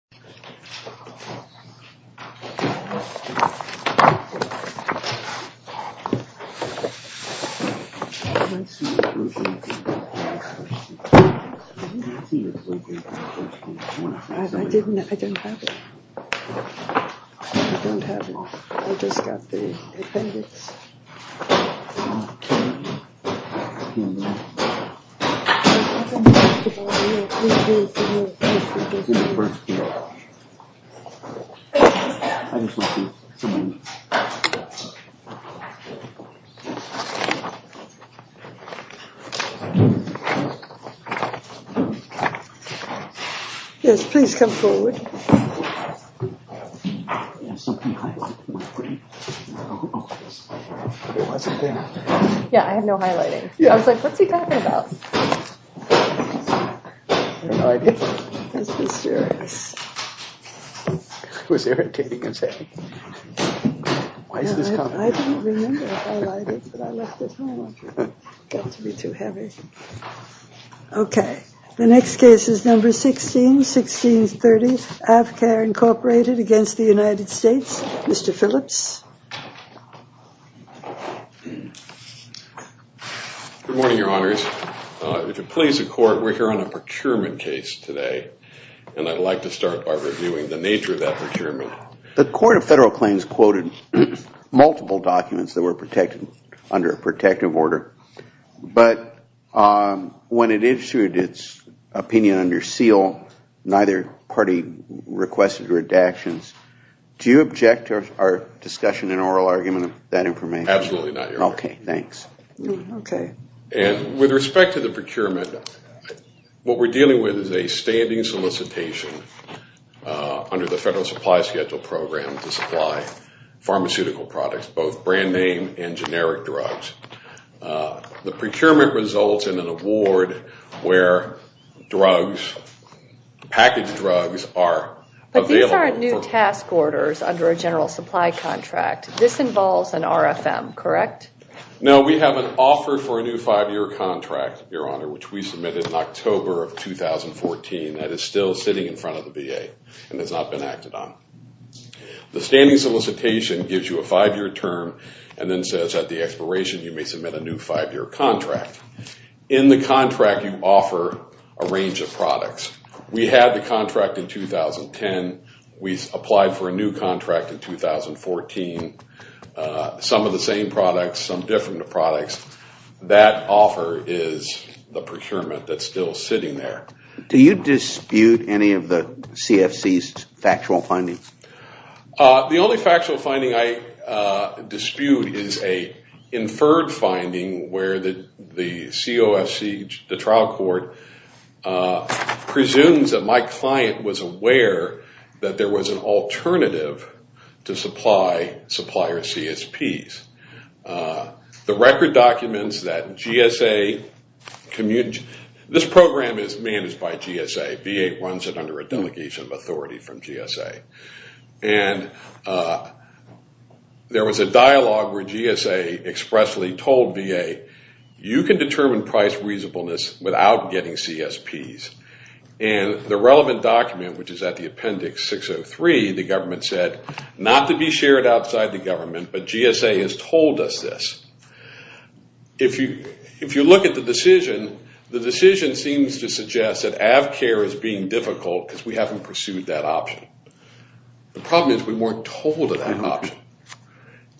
He demands that the US Institute of Foreign Policy of the United Nations, in author's It was irritating, I'm sorry. Why is this coming? I didn't remember if I light it, but I left it home. Got to be too heavy. Okay, the next case is number 16, 1630, AFCAR Incorporated against the United States. Mr. Phillips. Good morning, your honors. If it please the court, we're here on a procurement case today. And I'd like to start by reviewing the nature of that procurement. The court of federal claims quoted multiple documents that were protected under a protective order. But when it issued its opinion under seal, neither party requested redactions. Do you object to our discussion and oral argument of that information? Absolutely not, your honor. Okay, thanks. Okay. And with respect to the procurement, what we're dealing with is a standing solicitation under the Federal Supply Schedule Program to supply pharmaceutical products, both brand name and generic drugs. The procurement results in an award where drugs, packaged drugs, are available. But these aren't new task orders under a general supply contract. This involves an RFM, correct? No, we have an offer for a new five-year contract, your honor, which we submitted in October of 2014 that is still sitting in front of the VA and has not been acted on. The standing solicitation gives you a five-year term and then says at the expiration you may submit a new five-year contract. In the contract you offer a range of products. We had the contract in 2010. We applied for a new contract in 2014. Some of the same products, some different products. That offer is the procurement that's still sitting there. Do you dispute any of the CFC's factual findings? The only factual finding I dispute is a inferred finding where the COFC, the trial court, presumes that my client was aware that there was an alternative to supply supplier CSPs. The record documents that GSA, this program is managed by GSA. VA runs it under a delegation of authority from GSA. And there was a dialogue where GSA expressly told VA, you can determine price reasonableness without getting CSPs. And the relevant document, which is at the appendix 603, the government said, not to be shared outside the government, but GSA has told us this. If you look at the decision, the decision seems to suggest that Avcare is being difficult because we haven't pursued that option. The problem is we weren't told of that option.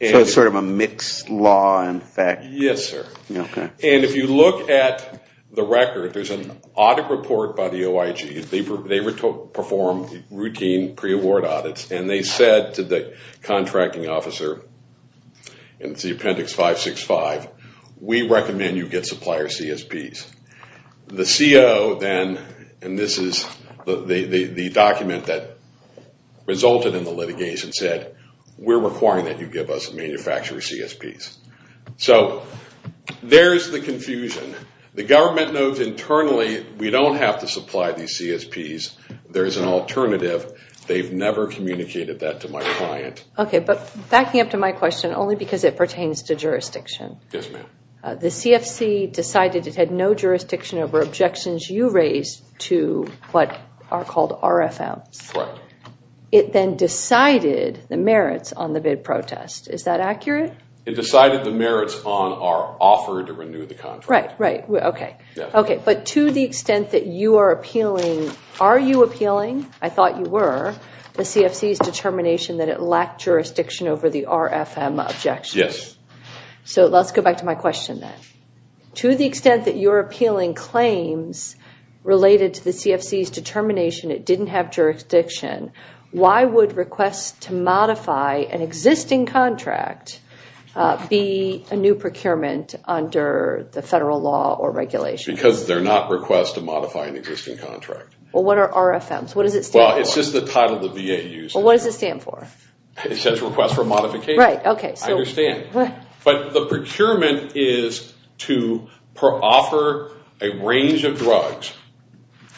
So it's sort of a mixed law in effect? Yes, sir. And if you look at the record, there's an audit report by the OIG. They perform routine pre-award audits. And they said to the contracting officer, and it's the appendix 565, we recommend you get supplier CSPs. The CO then, and this is the document that resulted in the litigation, said we're requiring that you give us manufacturer CSPs. So there's the confusion. The government knows internally we don't have to supply these CSPs. There's an alternative. They've never communicated that to my client. Okay, but backing up to my question, only because it pertains to jurisdiction. Yes, ma'am. The CFC decided it had no jurisdiction over objections you raised to what are called RFMs. Correct. It then decided the merits on the bid protest. Is that accurate? It decided the merits on our offer to renew the contract. Right, right. Okay. But to the extent that you are appealing, are you appealing? I thought you were. The CFC's determination that it lacked jurisdiction over the RFM objections. Yes. So let's go back to my question then. To the extent that you're appealing claims related to the CFC's determination it didn't have jurisdiction, why would requests to modify an existing contract be a new procurement under the federal law or regulation? Because they're not requests to modify an existing contract. Well, what are RFMs? What does it stand for? Well, it's just the title the VA used. Well, what does it stand for? It says request for modification. Right, okay. I understand. But the procurement is to offer a range of drugs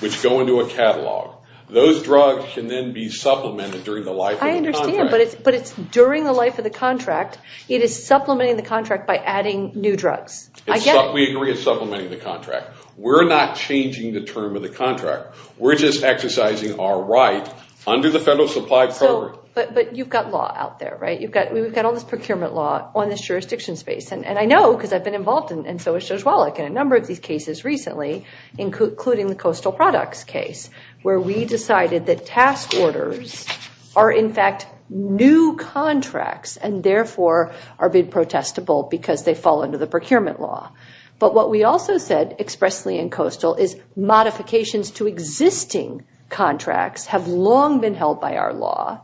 which go into a catalog. Those drugs can then be supplemented during the life of the contract. I understand, but it's during the life of the contract. It is supplementing the contract by adding new drugs. We agree it's supplementing the contract. We're not changing the term of the contract. We're just exercising our right under the federal supply program. But you've got law out there, right? We've got all this procurement law on this jurisdiction space. And I know because I've been involved, and so has Judge Wallach, in a number of these cases recently, including the Coastal Products case, where we decided that task orders are, in fact, new contracts and, therefore, are bid protestable because they fall under the procurement law. But what we also said expressly in Coastal is modifications to existing contracts have long been held by our law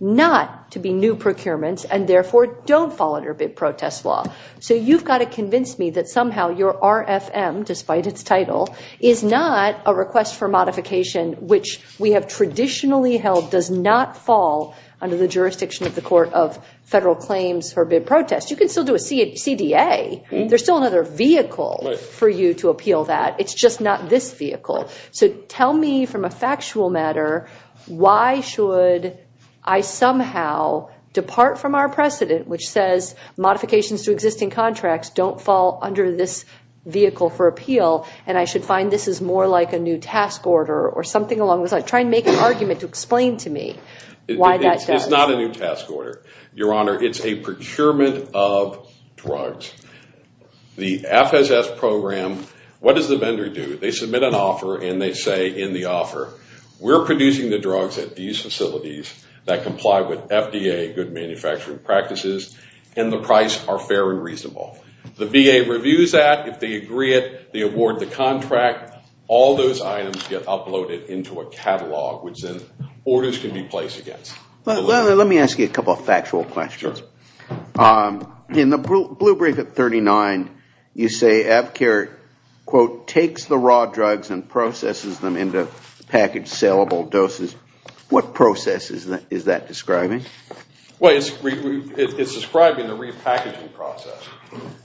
not to be new procurements and, therefore, don't fall under bid protest law. So you've got to convince me that somehow your RFM, despite its title, is not a request for modification which we have traditionally held does not fall under the jurisdiction of the Court of Federal Claims for bid protest. You can still do a CDA. There's still another vehicle for you to appeal that. It's just not this vehicle. So tell me from a factual matter why should I somehow depart from our precedent which says modifications to existing contracts don't fall under this vehicle for appeal and I should find this is more like a new task order or something along those lines? Try and make an argument to explain to me why that does. It's not a new task order, Your Honor. It's a procurement of drugs. The FSS program, what does the vendor do? They submit an offer and they say in the offer, we're producing the drugs at these facilities that comply with FDA good manufacturing practices and the price are fair and reasonable. The VA reviews that. If they agree it, they award the contract. All those items get uploaded into a catalog which then orders can be placed against. Let me ask you a couple of factual questions. Sure. In the blue brief at 39, you say Avcare, quote, takes the raw drugs and processes them into package sellable doses. What process is that describing? Well, it's describing the repackaging process.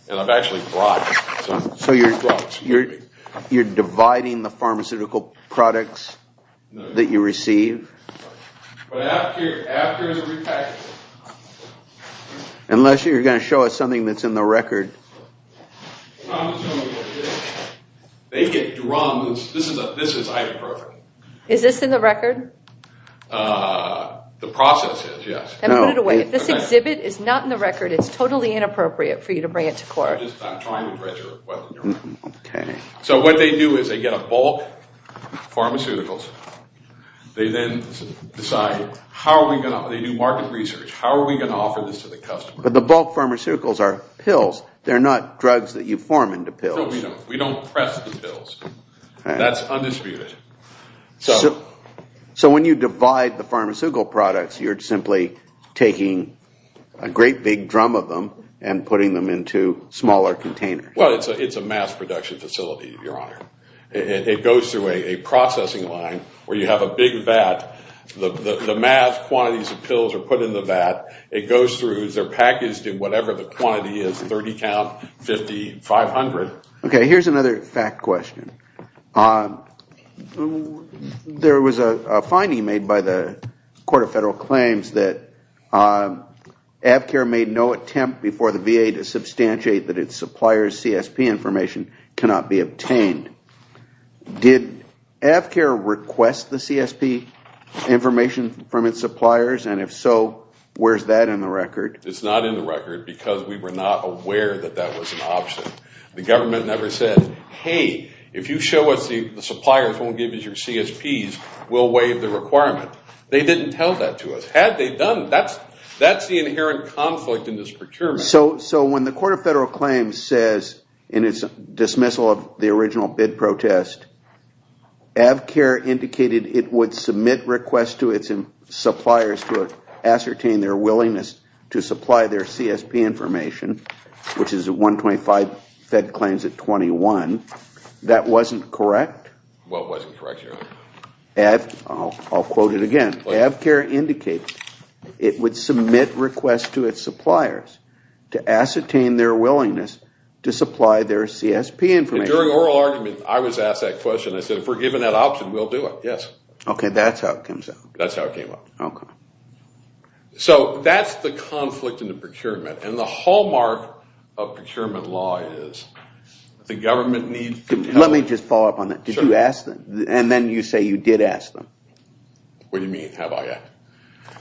And I've actually blocked it. So you're dividing the pharmaceutical products that you receive? Avcare is repackaging. Unless you're going to show us something that's in the record. Pharmaceuticals. They get drums. This is idemperfect. Is this in the record? The process is, yes. Then put it away. If this exhibit is not in the record, it's totally inappropriate for you to bring it to court. I'm just trying to read your equipment, Your Honor. Okay. So what they do is they get a bulk of pharmaceuticals. They then decide how are we going to do market research? How are we going to offer this to the customer? But the bulk pharmaceuticals are pills. They're not drugs that you form into pills. No, we don't. We don't press the pills. That's undisputed. So when you divide the pharmaceutical products, you're simply taking a great big drum of them and putting them into smaller containers. Well, it's a mass production facility, Your Honor. It goes through a processing line where you have a big vat. The mass quantities of pills are put in the vat. It goes through. They're packaged in whatever the quantity is, 30 count, 50, 500. Okay, here's another fact question. There was a finding made by the Court of Federal Claims that AFCAIR made no attempt before the VA to substantiate that its supplier's CSP information cannot be obtained. Did AFCAIR request the CSP information from its suppliers? And if so, where's that in the record? It's not in the record because we were not aware that that was an option. The government never said, hey, if you show us the suppliers won't give us your CSPs, we'll waive the requirement. They didn't tell that to us. That's the inherent conflict in this procurement. So when the Court of Federal Claims says in its dismissal of the original bid protest, AFCAIR indicated it would submit requests to its suppliers to ascertain their willingness to supply their CSP information, which is 125 fed claims at 21. That wasn't correct? Well, it wasn't correct, Your Honor. I'll quote it again. AFCAIR indicated it would submit requests to its suppliers to ascertain their willingness to supply their CSP information. During oral argument, I was asked that question. I said, if we're given that option, we'll do it. Yes. Okay, that's how it comes out. That's how it came out. Okay. So that's the conflict in the procurement. And the hallmark of procurement law is the government needs to tell us. Let me just follow up on that. Did you ask them? And then you say you did ask them. What do you mean, have I asked?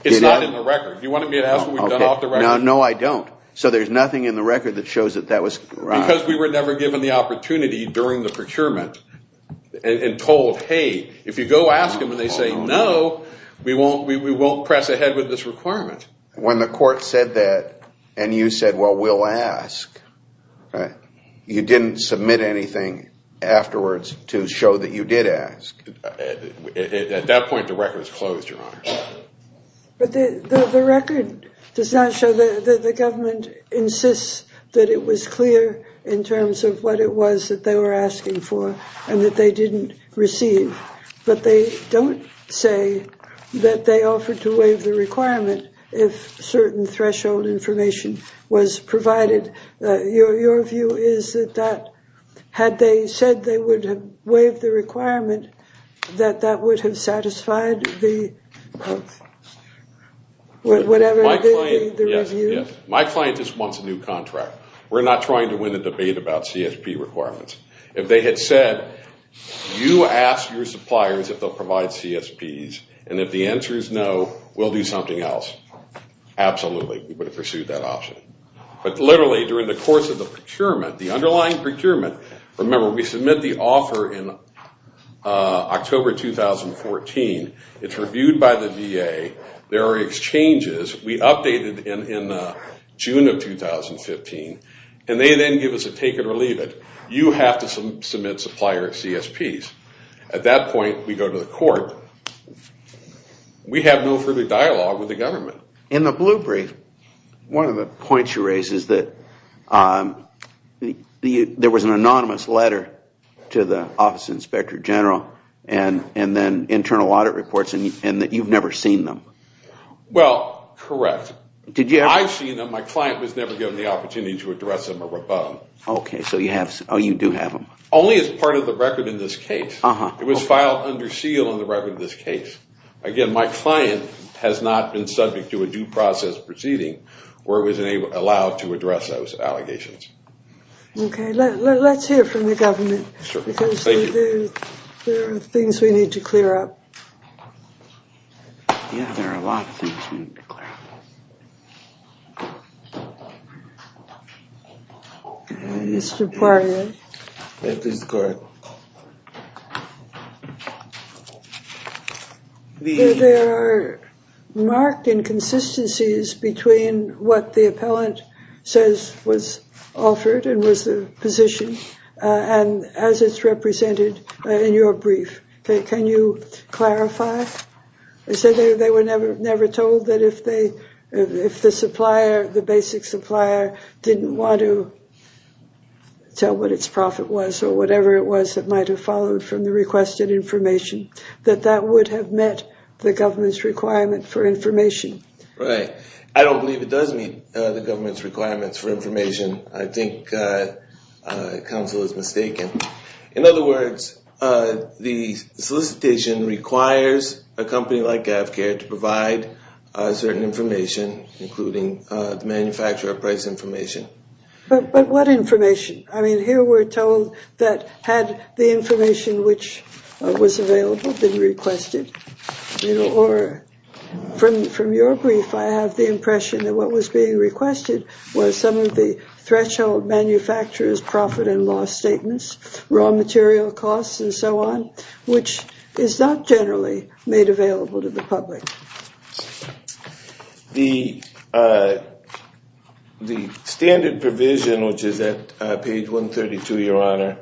It's not in the record. Do you want me to ask what we've done off the record? No, I don't. So there's nothing in the record that shows that that was right. Because we were never given the opportunity during the procurement and told, hey, if you go ask them and they say no, we won't press ahead with this requirement. When the Court said that and you said, well, we'll ask, you didn't submit anything afterwards to show that you did ask. At that point, the record was closed, Your Honor. But the record does not show that the government insists that it was clear in terms of what it was that they were asking for and that they didn't receive. But they don't say that they offered to waive the requirement if certain threshold information was provided. Your view is that had they said they would have waived the requirement, that that would have satisfied the review? Yes. My client just wants a new contract. We're not trying to win a debate about CSP requirements. If they had said, you ask your suppliers if they'll provide CSPs, and if the answer is no, we'll do something else, absolutely. We would have pursued that option. But literally during the course of the procurement, the underlying procurement, remember, we submit the offer in October 2014. It's reviewed by the VA. There are exchanges. We updated in June of 2015. And they then give us a take it or leave it. You have to submit supplier CSPs. At that point, we go to the Court. We have no further dialogue with the government. In the blue brief, one of the points you raise is that there was an anonymous letter to the Office of the Inspector General and then internal audit reports, and that you've never seen them. Well, correct. I've seen them. My client was never given the opportunity to address them or rebut them. Okay, so you do have them. Only as part of the record in this case. It was filed under seal in the record of this case. Again, my client has not been subject to a due process proceeding where it was allowed to address those allegations. Okay, let's hear from the government because there are things we need to clear up. Yeah, there are a lot of things we need to clear up. Mr. Poirier. That is correct. There are marked inconsistencies between what the appellant says was offered and was the position, and as it's represented in your brief. Can you clarify? They said they were never told that if the basic supplier didn't want to tell what its profit was or whatever it was that might have followed from the requested information, that that would have met the government's requirement for information. Right. I don't believe it does meet the government's requirements for information. I think counsel is mistaken. In other words, the solicitation requires a company like GAVCARE to provide certain information, including the manufacturer price information. But what information? I mean, here we're told that had the information which was available been requested, or from your brief I have the impression that what was being requested was some of the threshold manufacturers' profit and loss statements, raw material costs, and so on, which is not generally made available to the public. The standard provision, which is at page 132, Your Honor,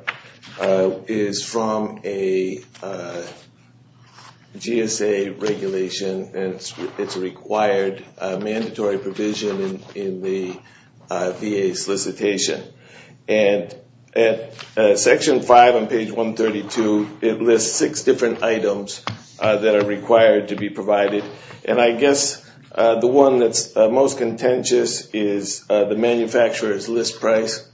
is from a GSA regulation, and it's a required mandatory provision in the VA solicitation. And at section 5 on page 132, it lists six different items that are required to be provided. And I guess the one that's most contentious is the manufacturer's list price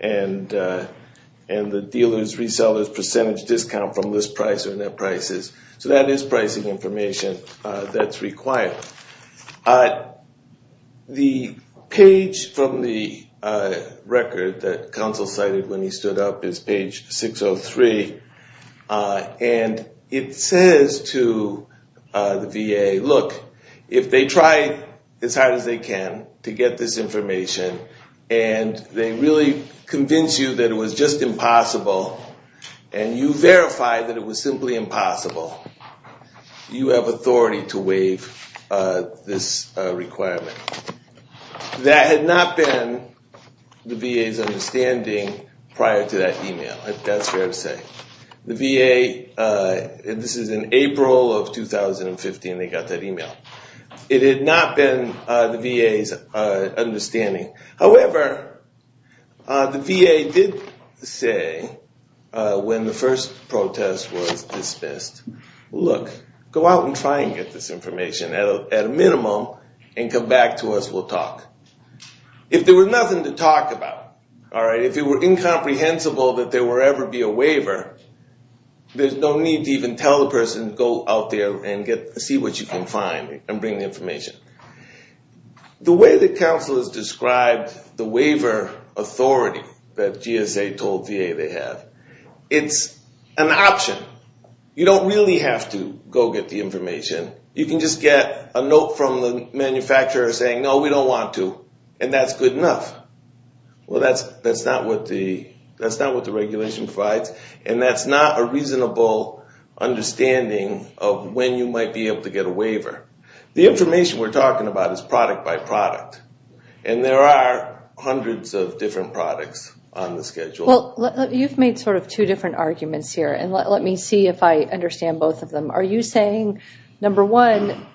and the dealer's reseller's percentage discount from list price or net prices. So that is pricing information that's required. The page from the record that counsel cited when he stood up is page 603, and it says to the VA, look, if they try as hard as they can to get this information and they really convince you that it was just impossible and you verify that it was simply impossible, you have authority to waive this requirement. That had not been the VA's understanding prior to that e-mail, if that's fair to say. The VA, and this is in April of 2015 they got that e-mail. It had not been the VA's understanding. However, the VA did say when the first protest was dismissed, look, go out and try and get this information at a minimum and come back to us, we'll talk. If there was nothing to talk about, if it were incomprehensible that there would ever be a waiver, there's no need to even tell the person to go out there and see what you can find and bring the information. The way that counsel has described the waiver authority that GSA told VA they have, it's an option. You don't really have to go get the information. You can just get a note from the manufacturer saying, no, we don't want to, and that's good enough. Well, that's not what the regulation provides, and that's not a reasonable understanding of when you might be able to get a waiver. The information we're talking about is product by product, and there are hundreds of different products on the schedule. Well, you've made sort of two different arguments here, and let me see if I understand both of them. Are you saying, number one,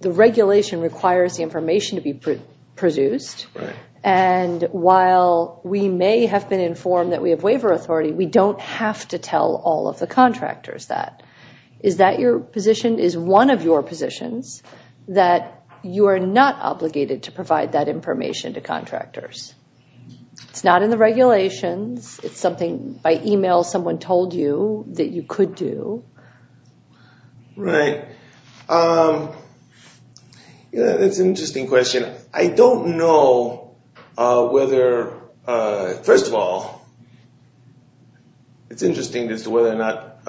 the regulation requires the information to be produced, and while we may have been informed that we have waiver authority, we don't have to tell all of the contractors that? Is that your position? Is one of your positions that you are not obligated to provide that information to contractors? It's not in the regulations. It's something by email someone told you that you could do. Right. That's an interesting question. I don't know whether, first of all, it's interesting as to whether or not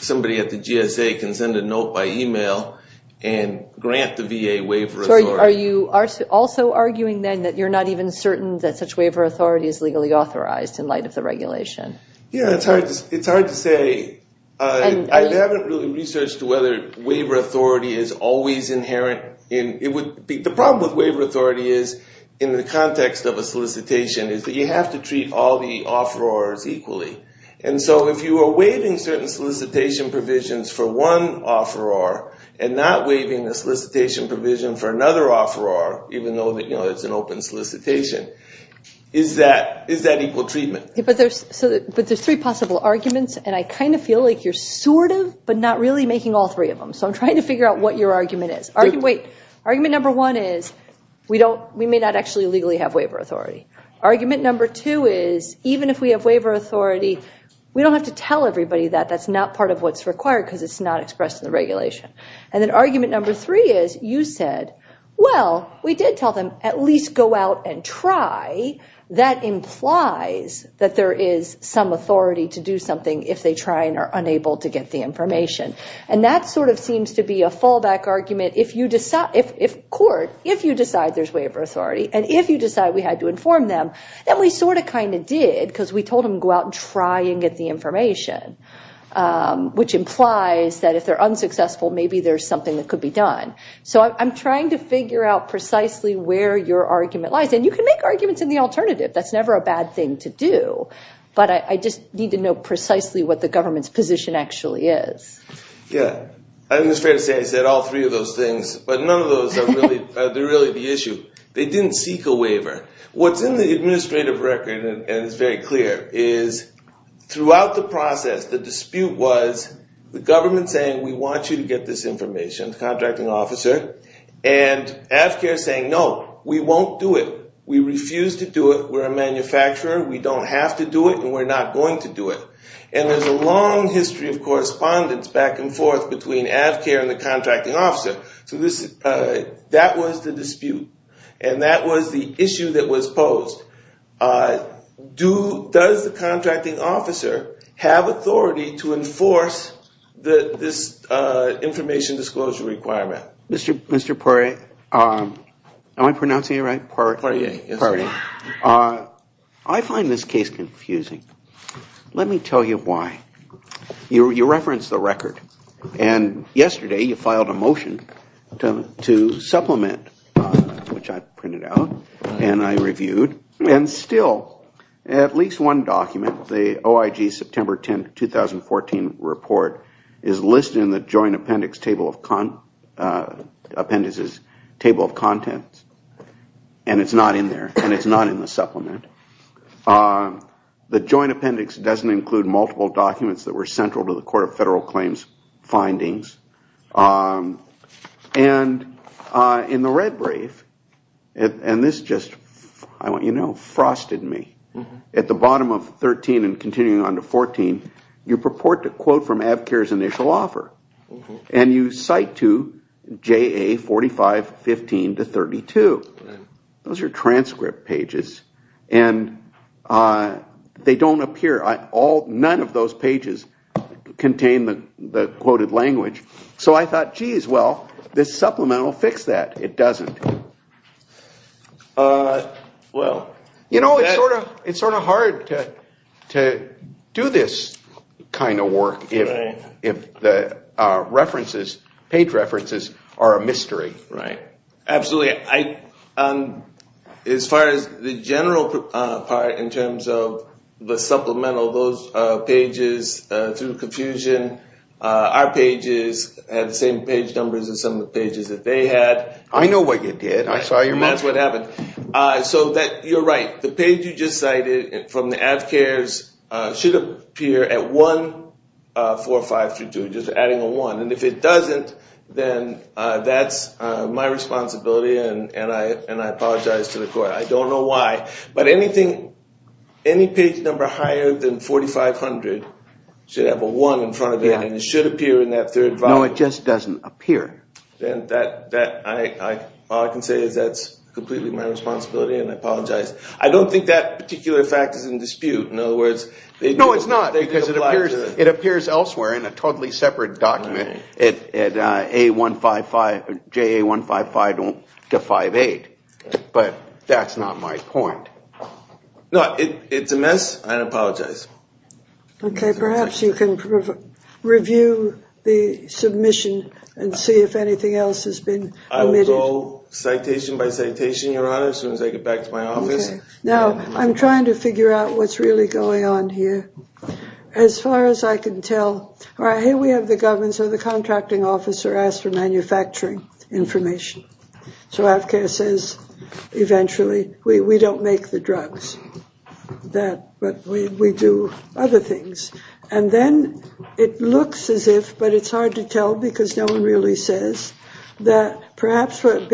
somebody at the GSA can send a note by email and grant the VA waiver authority. Are you also arguing then that you're not even certain that such waiver authority is legally authorized in light of the regulation? Yeah, it's hard to say. I haven't really researched whether waiver authority is always inherent. The problem with waiver authority is, in the context of a solicitation, is that you have to treat all the offerors equally. And so if you are waiving certain solicitation provisions for one offeror and not waiving a solicitation provision for another offeror, even though it's an open solicitation, is that equal treatment? But there's three possible arguments, and I kind of feel like you're sort of but not really making all three of them. So I'm trying to figure out what your argument is. Wait. Argument number one is we may not actually legally have waiver authority. Argument number two is even if we have waiver authority, we don't have to tell everybody that that's not part of what's required because it's not expressed in the regulation. And then argument number three is you said, well, we did tell them at least go out and try. That implies that there is some authority to do something if they try and are unable to get the information. And that sort of seems to be a fallback argument. If court, if you decide there's waiver authority and if you decide we had to inform them, then we sort of kind of did because we told them to go out and try and get the information, which implies that if they're unsuccessful, maybe there's something that could be done. So I'm trying to figure out precisely where your argument lies. And you can make arguments in the alternative. That's never a bad thing to do. But I just need to know precisely what the government's position actually is. Yeah. I think it's fair to say I said all three of those things, but none of those are really the issue. They didn't seek a waiver. What's in the administrative record, and it's very clear, is throughout the process, the dispute was the government saying we want you to get this information, the contracting officer, and AFCAIR saying, no, we won't do it. We refuse to do it. We're a manufacturer. We don't have to do it, and we're not going to do it. And there's a long history of correspondence back and forth between AFCAIR and the contracting officer. So that was the dispute, and that was the issue that was posed. Does the contracting officer have authority to enforce this information disclosure requirement? Mr. Poirier, am I pronouncing it right? Poirier, yes. I find this case confusing. Let me tell you why. You referenced the record, and yesterday you filed a motion to supplement, which I printed out and I reviewed. And still, at least one document, the OIG September 10, 2014 report, is listed in the joint appendices table of contents, and it's not in there. And it's not in the supplement. The joint appendix doesn't include multiple documents that were central to the Court of Federal Claims findings. And in the red brief, and this just, I want you to know, frosted me. At the bottom of 13 and continuing on to 14, you purport to quote from AFCAIR's initial offer. And you cite to JA 4515 to 32. Those are transcript pages, and they don't appear. None of those pages contain the quoted language. So I thought, geez, well, this supplement will fix that. It doesn't. You know, it's sort of hard to do this kind of work if the references, page references, are a mystery. Right. Absolutely. As far as the general part in terms of the supplemental, those pages, through confusion, our pages had the same page numbers as some of the pages that they had. I know what you did. I saw your motion. That's what happened. So you're right. The page you just cited from the AFCAIR's should appear at 14532, just adding a one. And if it doesn't, then that's my responsibility, and I apologize to the court. I don't know why, but anything, any page number higher than 4500 should have a one in front of it, and it should appear in that third volume. No, it just doesn't appear. Then that, all I can say is that's completely my responsibility, and I apologize. I don't think that particular fact is in dispute. No, it's not, because it appears elsewhere in a totally separate document. At JA155-58, but that's not my point. No, it's a mess, and I apologize. Okay, perhaps you can review the submission and see if anything else has been omitted. I will go citation by citation, Your Honor, as soon as I get back to my office. Okay. Now, I'm trying to figure out what's really going on here. As far as I can tell, all right, here we have the government, so the contracting officer asked for manufacturing information. So AFCAIR says, eventually, we don't make the drugs, but we do other things. And then it looks as if, but it's hard to tell because no one really says, that perhaps what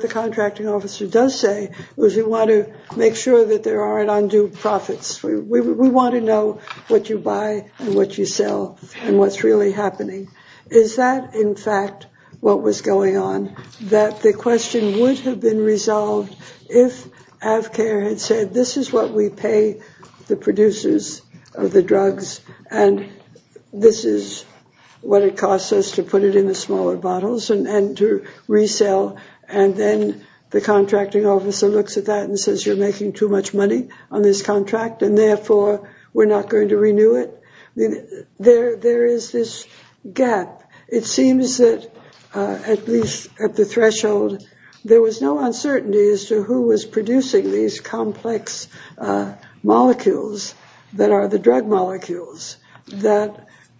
the contracting officer does say is we want to make sure that there aren't undue profits. We want to know what you buy and what you sell and what's really happening. Is that, in fact, what was going on? That the question would have been resolved if AFCAIR had said, this is what we pay the producers of the drugs, and this is what it costs us to put it in the smaller bottles and to resell. And then the contracting officer looks at that and says, you're making too much money on this contract, and therefore, we're not going to renew it. There is this gap. It seems that, at least at the threshold, there was no uncertainty as to who was producing these complex molecules that are the drug molecules. There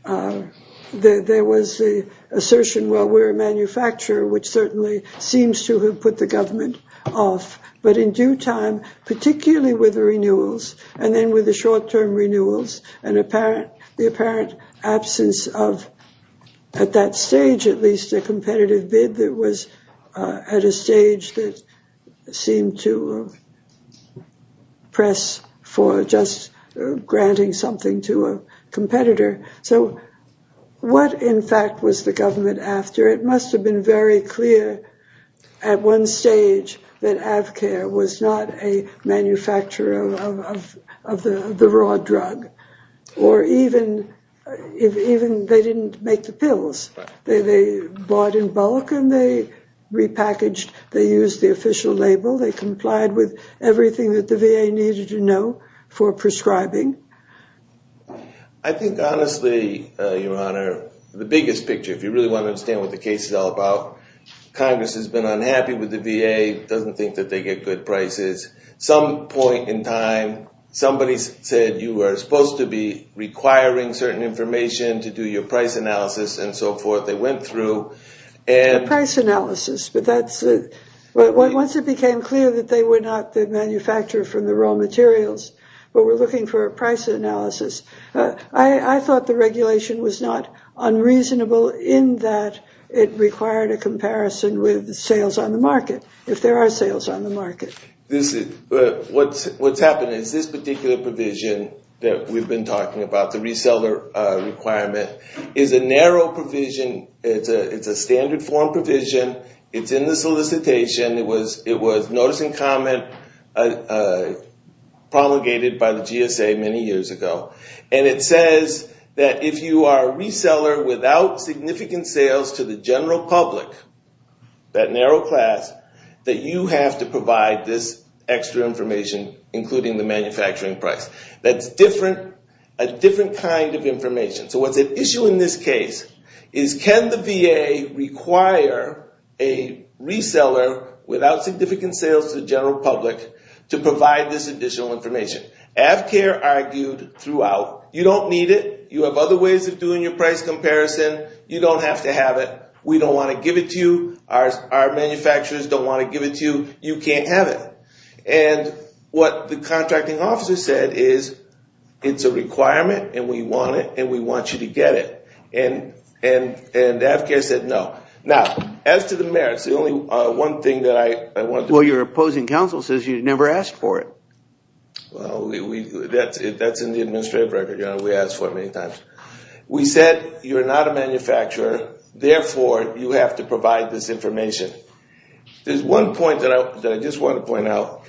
was the assertion, well, we're a manufacturer, which certainly seems to have put the government off. But in due time, particularly with the renewals, and then with the short-term renewals, and the apparent absence of, at that stage at least, a competitive bid that was at a stage that seemed to press for just granting something to a competitor. So what, in fact, was the government after? It must have been very clear at one stage that AFCAIR was not a manufacturer of the raw drug. Or even they didn't make the pills. They bought in bulk and they repackaged. They used the official label. They complied with everything that the VA needed to know for prescribing. I think, honestly, Your Honor, the biggest picture, if you really want to understand what the case is all about, Congress has been unhappy with the VA, doesn't think that they get good prices. Some point in time, somebody said you were supposed to be requiring certain information to do your price analysis and so forth. They went through and... The price analysis. But once it became clear that they were not the manufacturer for the raw materials, but were looking for a price analysis, I thought the regulation was not unreasonable in that it required a comparison with sales on the market, if there are sales on the market. What's happened is this particular provision that we've been talking about, the reseller requirement, is a narrow provision. It's a standard form provision. It's in the solicitation. It was notice and comment promulgated by the GSA many years ago. And it says that if you are a reseller without significant sales to the general public, that narrow class, that you have to provide this extra information, including the manufacturing price. That's a different kind of information. So what's at issue in this case is, can the VA require a reseller without significant sales to the general public to provide this additional information? Avcare argued throughout, you don't need it. You have other ways of doing your price comparison. You don't have to have it. We don't want to give it to you. Our manufacturers don't want to give it to you. You can't have it. And what the contracting officer said is, it's a requirement, and we want it, and we want you to get it. And Avcare said no. Now, as to the merits, the only one thing that I want to do. Well, your opposing counsel says you never asked for it. Well, that's in the administrative record, Your Honor. We asked for it many times. We said you're not a manufacturer. Therefore, you have to provide this information. There's one point that I just want to point out.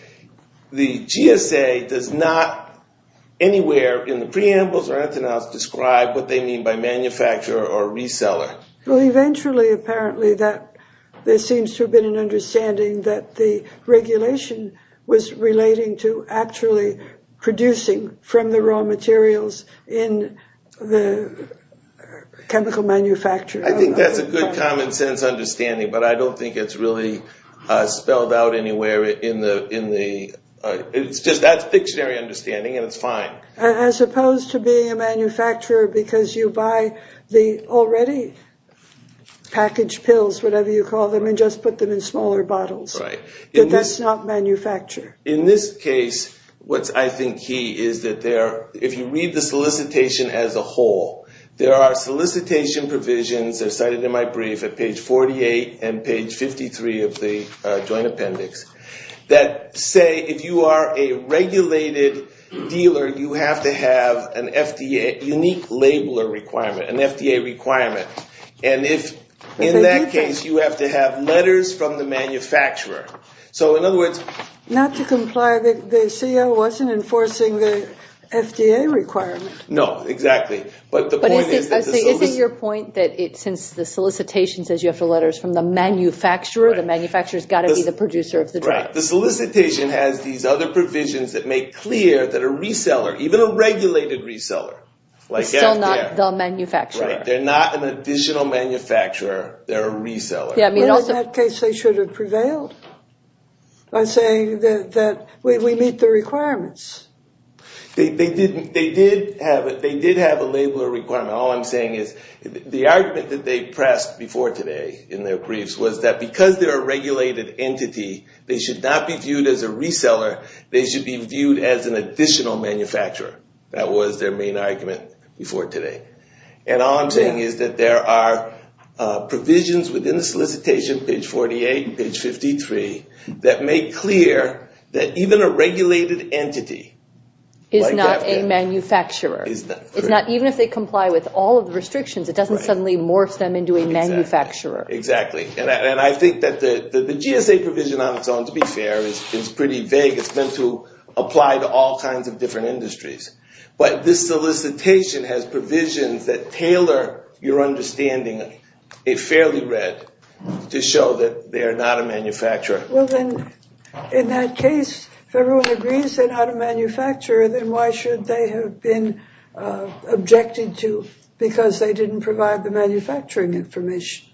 The GSA does not anywhere in the preambles or antennas describe what they mean by manufacturer or reseller. Well, eventually, apparently, there seems to have been an understanding that the regulation was relating to actually producing from the raw materials in the chemical manufacturer. I think that's a good common sense understanding, but I don't think it's really spelled out anywhere in the ‑‑ it's just that's dictionary understanding, and it's fine. As opposed to being a manufacturer because you buy the already packaged pills, whatever you call them, and just put them in smaller bottles. Right. But that's not manufacturer. In this case, what's, I think, key is that if you read the solicitation as a whole, there are solicitation provisions that are cited in my brief at page 48 and page 53 of the Joint Appendix that say if you are a regulated dealer, you have to have a unique labeler requirement, an FDA requirement. And in that case, you have to have letters from the manufacturer. So, in other words ‑‑ Not to comply, the CO wasn't enforcing the FDA requirement. No, exactly. But the point is that the solicitation ‑‑ But isn't your point that since the solicitation says you have to have letters from the manufacturer, the manufacturer has got to be the producer of the drug? Right. The solicitation has these other provisions that make clear that a reseller, even a regulated reseller, like FDA ‑‑ Still not the manufacturer. Right. They're not an additional manufacturer. They're a reseller. Well, in that case, they should have prevailed by saying that we meet the requirements. They did have a labeler requirement. All I'm saying is the argument that they pressed before today in their briefs was that because they're a regulated entity, they should not be viewed as a reseller. They should be viewed as an additional manufacturer. That was their main argument before today. And all I'm saying is that there are provisions within the solicitation, page 48 and page 53, that make clear that even a regulated entity like FDA ‑‑ Is not a manufacturer. Is not. Even if they comply with all of the restrictions, it doesn't suddenly morph them into a manufacturer. Exactly. And I think that the GSA provision on its own, to be fair, is pretty vague. It's meant to apply to all kinds of different industries. But this solicitation has provisions that tailor your understanding, a fairly read, to show that they are not a manufacturer. Well, then, in that case, if everyone agrees they're not a manufacturer, then why should they have been objected to because they didn't provide the manufacturing information?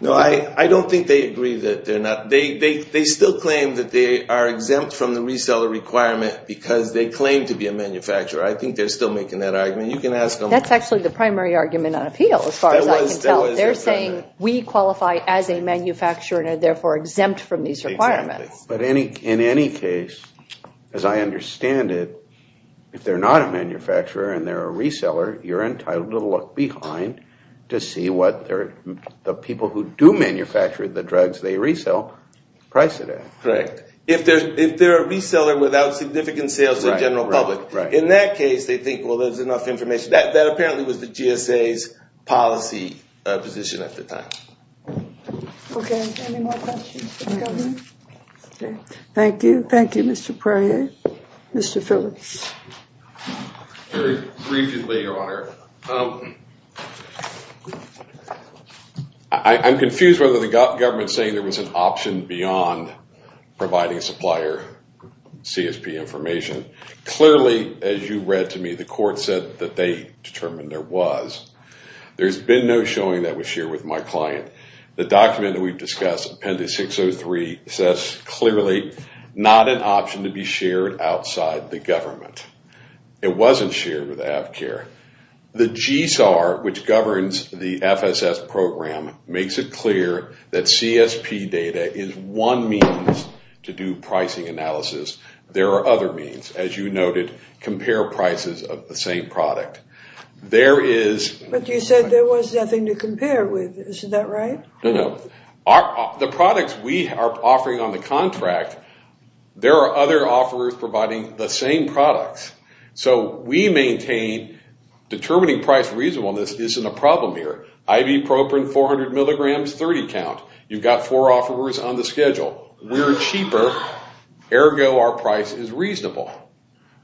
No, I don't think they agree that they're not. They still claim that they are exempt from the reseller requirement because they claim to be a manufacturer. I think they're still making that argument. You can ask them. That's actually the primary argument on appeal, as far as I can tell. They're saying we qualify as a manufacturer and are therefore exempt from these requirements. Exactly. But in any case, as I understand it, if they're not a manufacturer and they're a reseller, you're entitled to look behind to see what the people who do manufacture the drugs they resell price it at. Right. If they're a reseller without significant sales to the general public, in that case, they think, well, there's enough information. That apparently was the GSA's policy position at the time. Okay. Any more questions for the Governor? Okay. Thank you. Thank you, Mr. Pryor. Mr. Phillips. Very briefly, Your Honor. I'm confused whether the government is saying there was an option beyond providing supplier CSP information. Clearly, as you read to me, the court said that they determined there was. There's been no showing that was shared with my client. The document that we've discussed, Appendix 603, says clearly not an option to be shared outside the government. It wasn't shared with Avcare. The GSAR, which governs the FSS program, makes it clear that CSP data is one means to do pricing analysis. There are other means. As you noted, compare prices of the same product. But you said there was nothing to compare with. Isn't that right? No, no. The products we are offering on the contract, there are other offerers providing the same products. So we maintain determining price reasonableness isn't a problem here. Ibuprofen, 400 milligrams, 30 count. You've got four offerers on the schedule. We're cheaper. Ergo, our price is reasonable.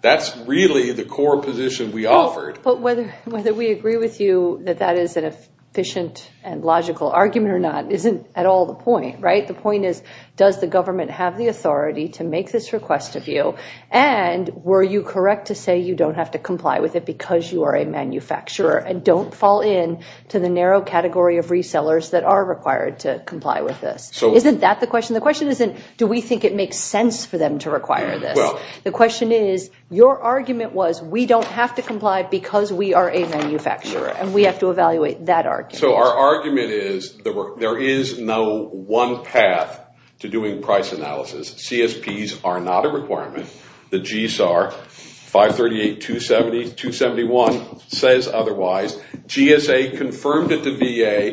That's really the core position we offered. But whether we agree with you that that is an efficient and logical argument or not isn't at all the point, right? The point is, does the government have the authority to make this request of you? And were you correct to say you don't have to comply with it because you are a manufacturer and don't fall into the narrow category of resellers that are required to comply with this? Isn't that the question? The question isn't, do we think it makes sense for them to require this? The question is, your argument was we don't have to comply because we are a manufacturer and we have to evaluate that argument. So our argument is there is no one path to doing price analysis. CSPs are not a requirement. The GSAR 538-271 says otherwise. GSA confirmed it to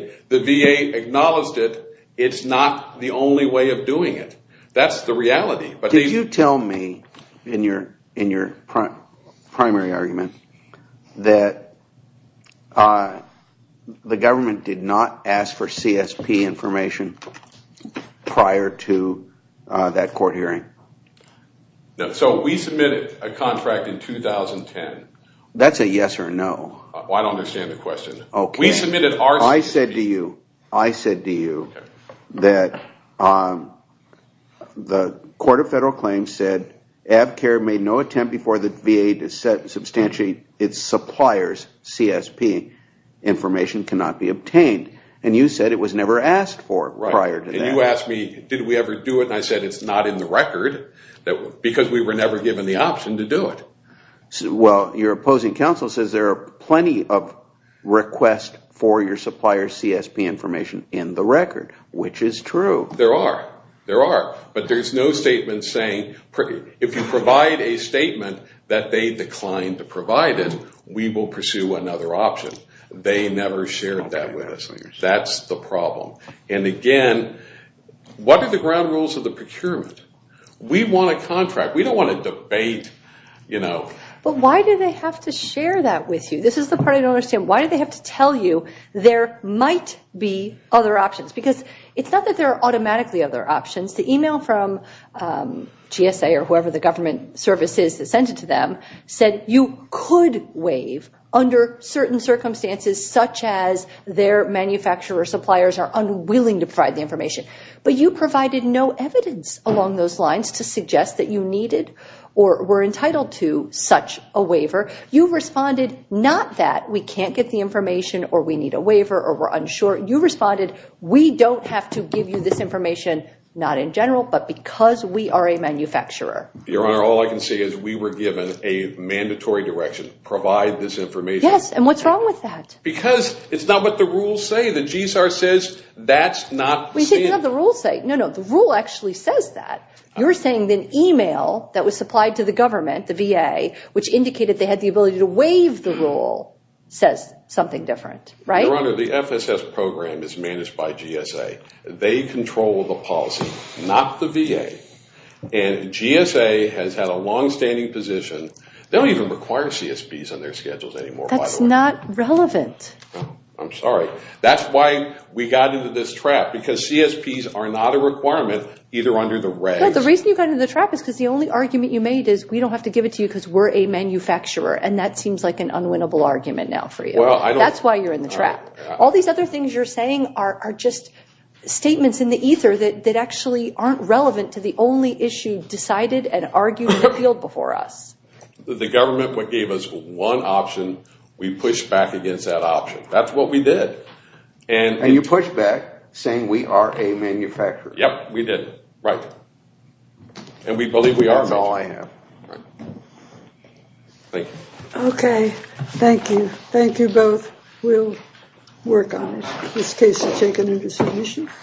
VA. The VA acknowledged it. It's not the only way of doing it. That's the reality. Did you tell me in your primary argument that the government did not ask for CSP information prior to that court hearing? So we submitted a contract in 2010. That's a yes or no. I don't understand the question. I said to you that the Court of Federal Claims said Avcare made no attempt before the VA to substantiate its supplier's CSP. Information cannot be obtained. And you said it was never asked for prior to that. And you asked me, did we ever do it? And I said it's not in the record because we were never given the option to do it. Well, your opposing counsel says there are plenty of requests for your supplier's CSP information in the record, which is true. There are. There are. But there's no statement saying if you provide a statement that they declined to provide it, we will pursue another option. They never shared that with us. That's the problem. And again, what are the ground rules of the procurement? We want a contract. We don't want to debate, you know. But why do they have to share that with you? This is the part I don't understand. Why do they have to tell you there might be other options? Because it's not that there are automatically other options. The email from GSA or whoever the government service is that sent it to them said you could waive under certain circumstances, such as their manufacturer or suppliers are unwilling to provide the information. But you provided no evidence along those lines to suggest that you needed or were entitled to such a waiver. You responded not that we can't get the information or we need a waiver or we're unsure. You responded we don't have to give you this information, not in general, but because we are a manufacturer. Your Honor, all I can say is we were given a mandatory direction to provide this information. Yes, and what's wrong with that? Because it's not what the rules say. We didn't have the rules say it. No, no, the rule actually says that. You're saying the email that was supplied to the government, the VA, which indicated they had the ability to waive the rule says something different, right? Your Honor, the FSS program is managed by GSA. They control the policy, not the VA. And GSA has had a longstanding position. They don't even require CSPs on their schedules anymore, by the way. That's not relevant. I'm sorry. That's why we got into this trap, because CSPs are not a requirement either under the regs. The reason you got into the trap is because the only argument you made is we don't have to give it to you because we're a manufacturer, and that seems like an unwinnable argument now for you. That's why you're in the trap. All these other things you're saying are just statements in the ether that actually aren't relevant to the only issue decided and argued and appealed before us. The government gave us one option. We pushed back against that option. That's what we did. And you pushed back, saying we are a manufacturer. Yep, we did. Right. And we believe we are. That's all I have. Right. Thank you. Okay. Thank you. Thank you both. We'll work on this case and take it into submission.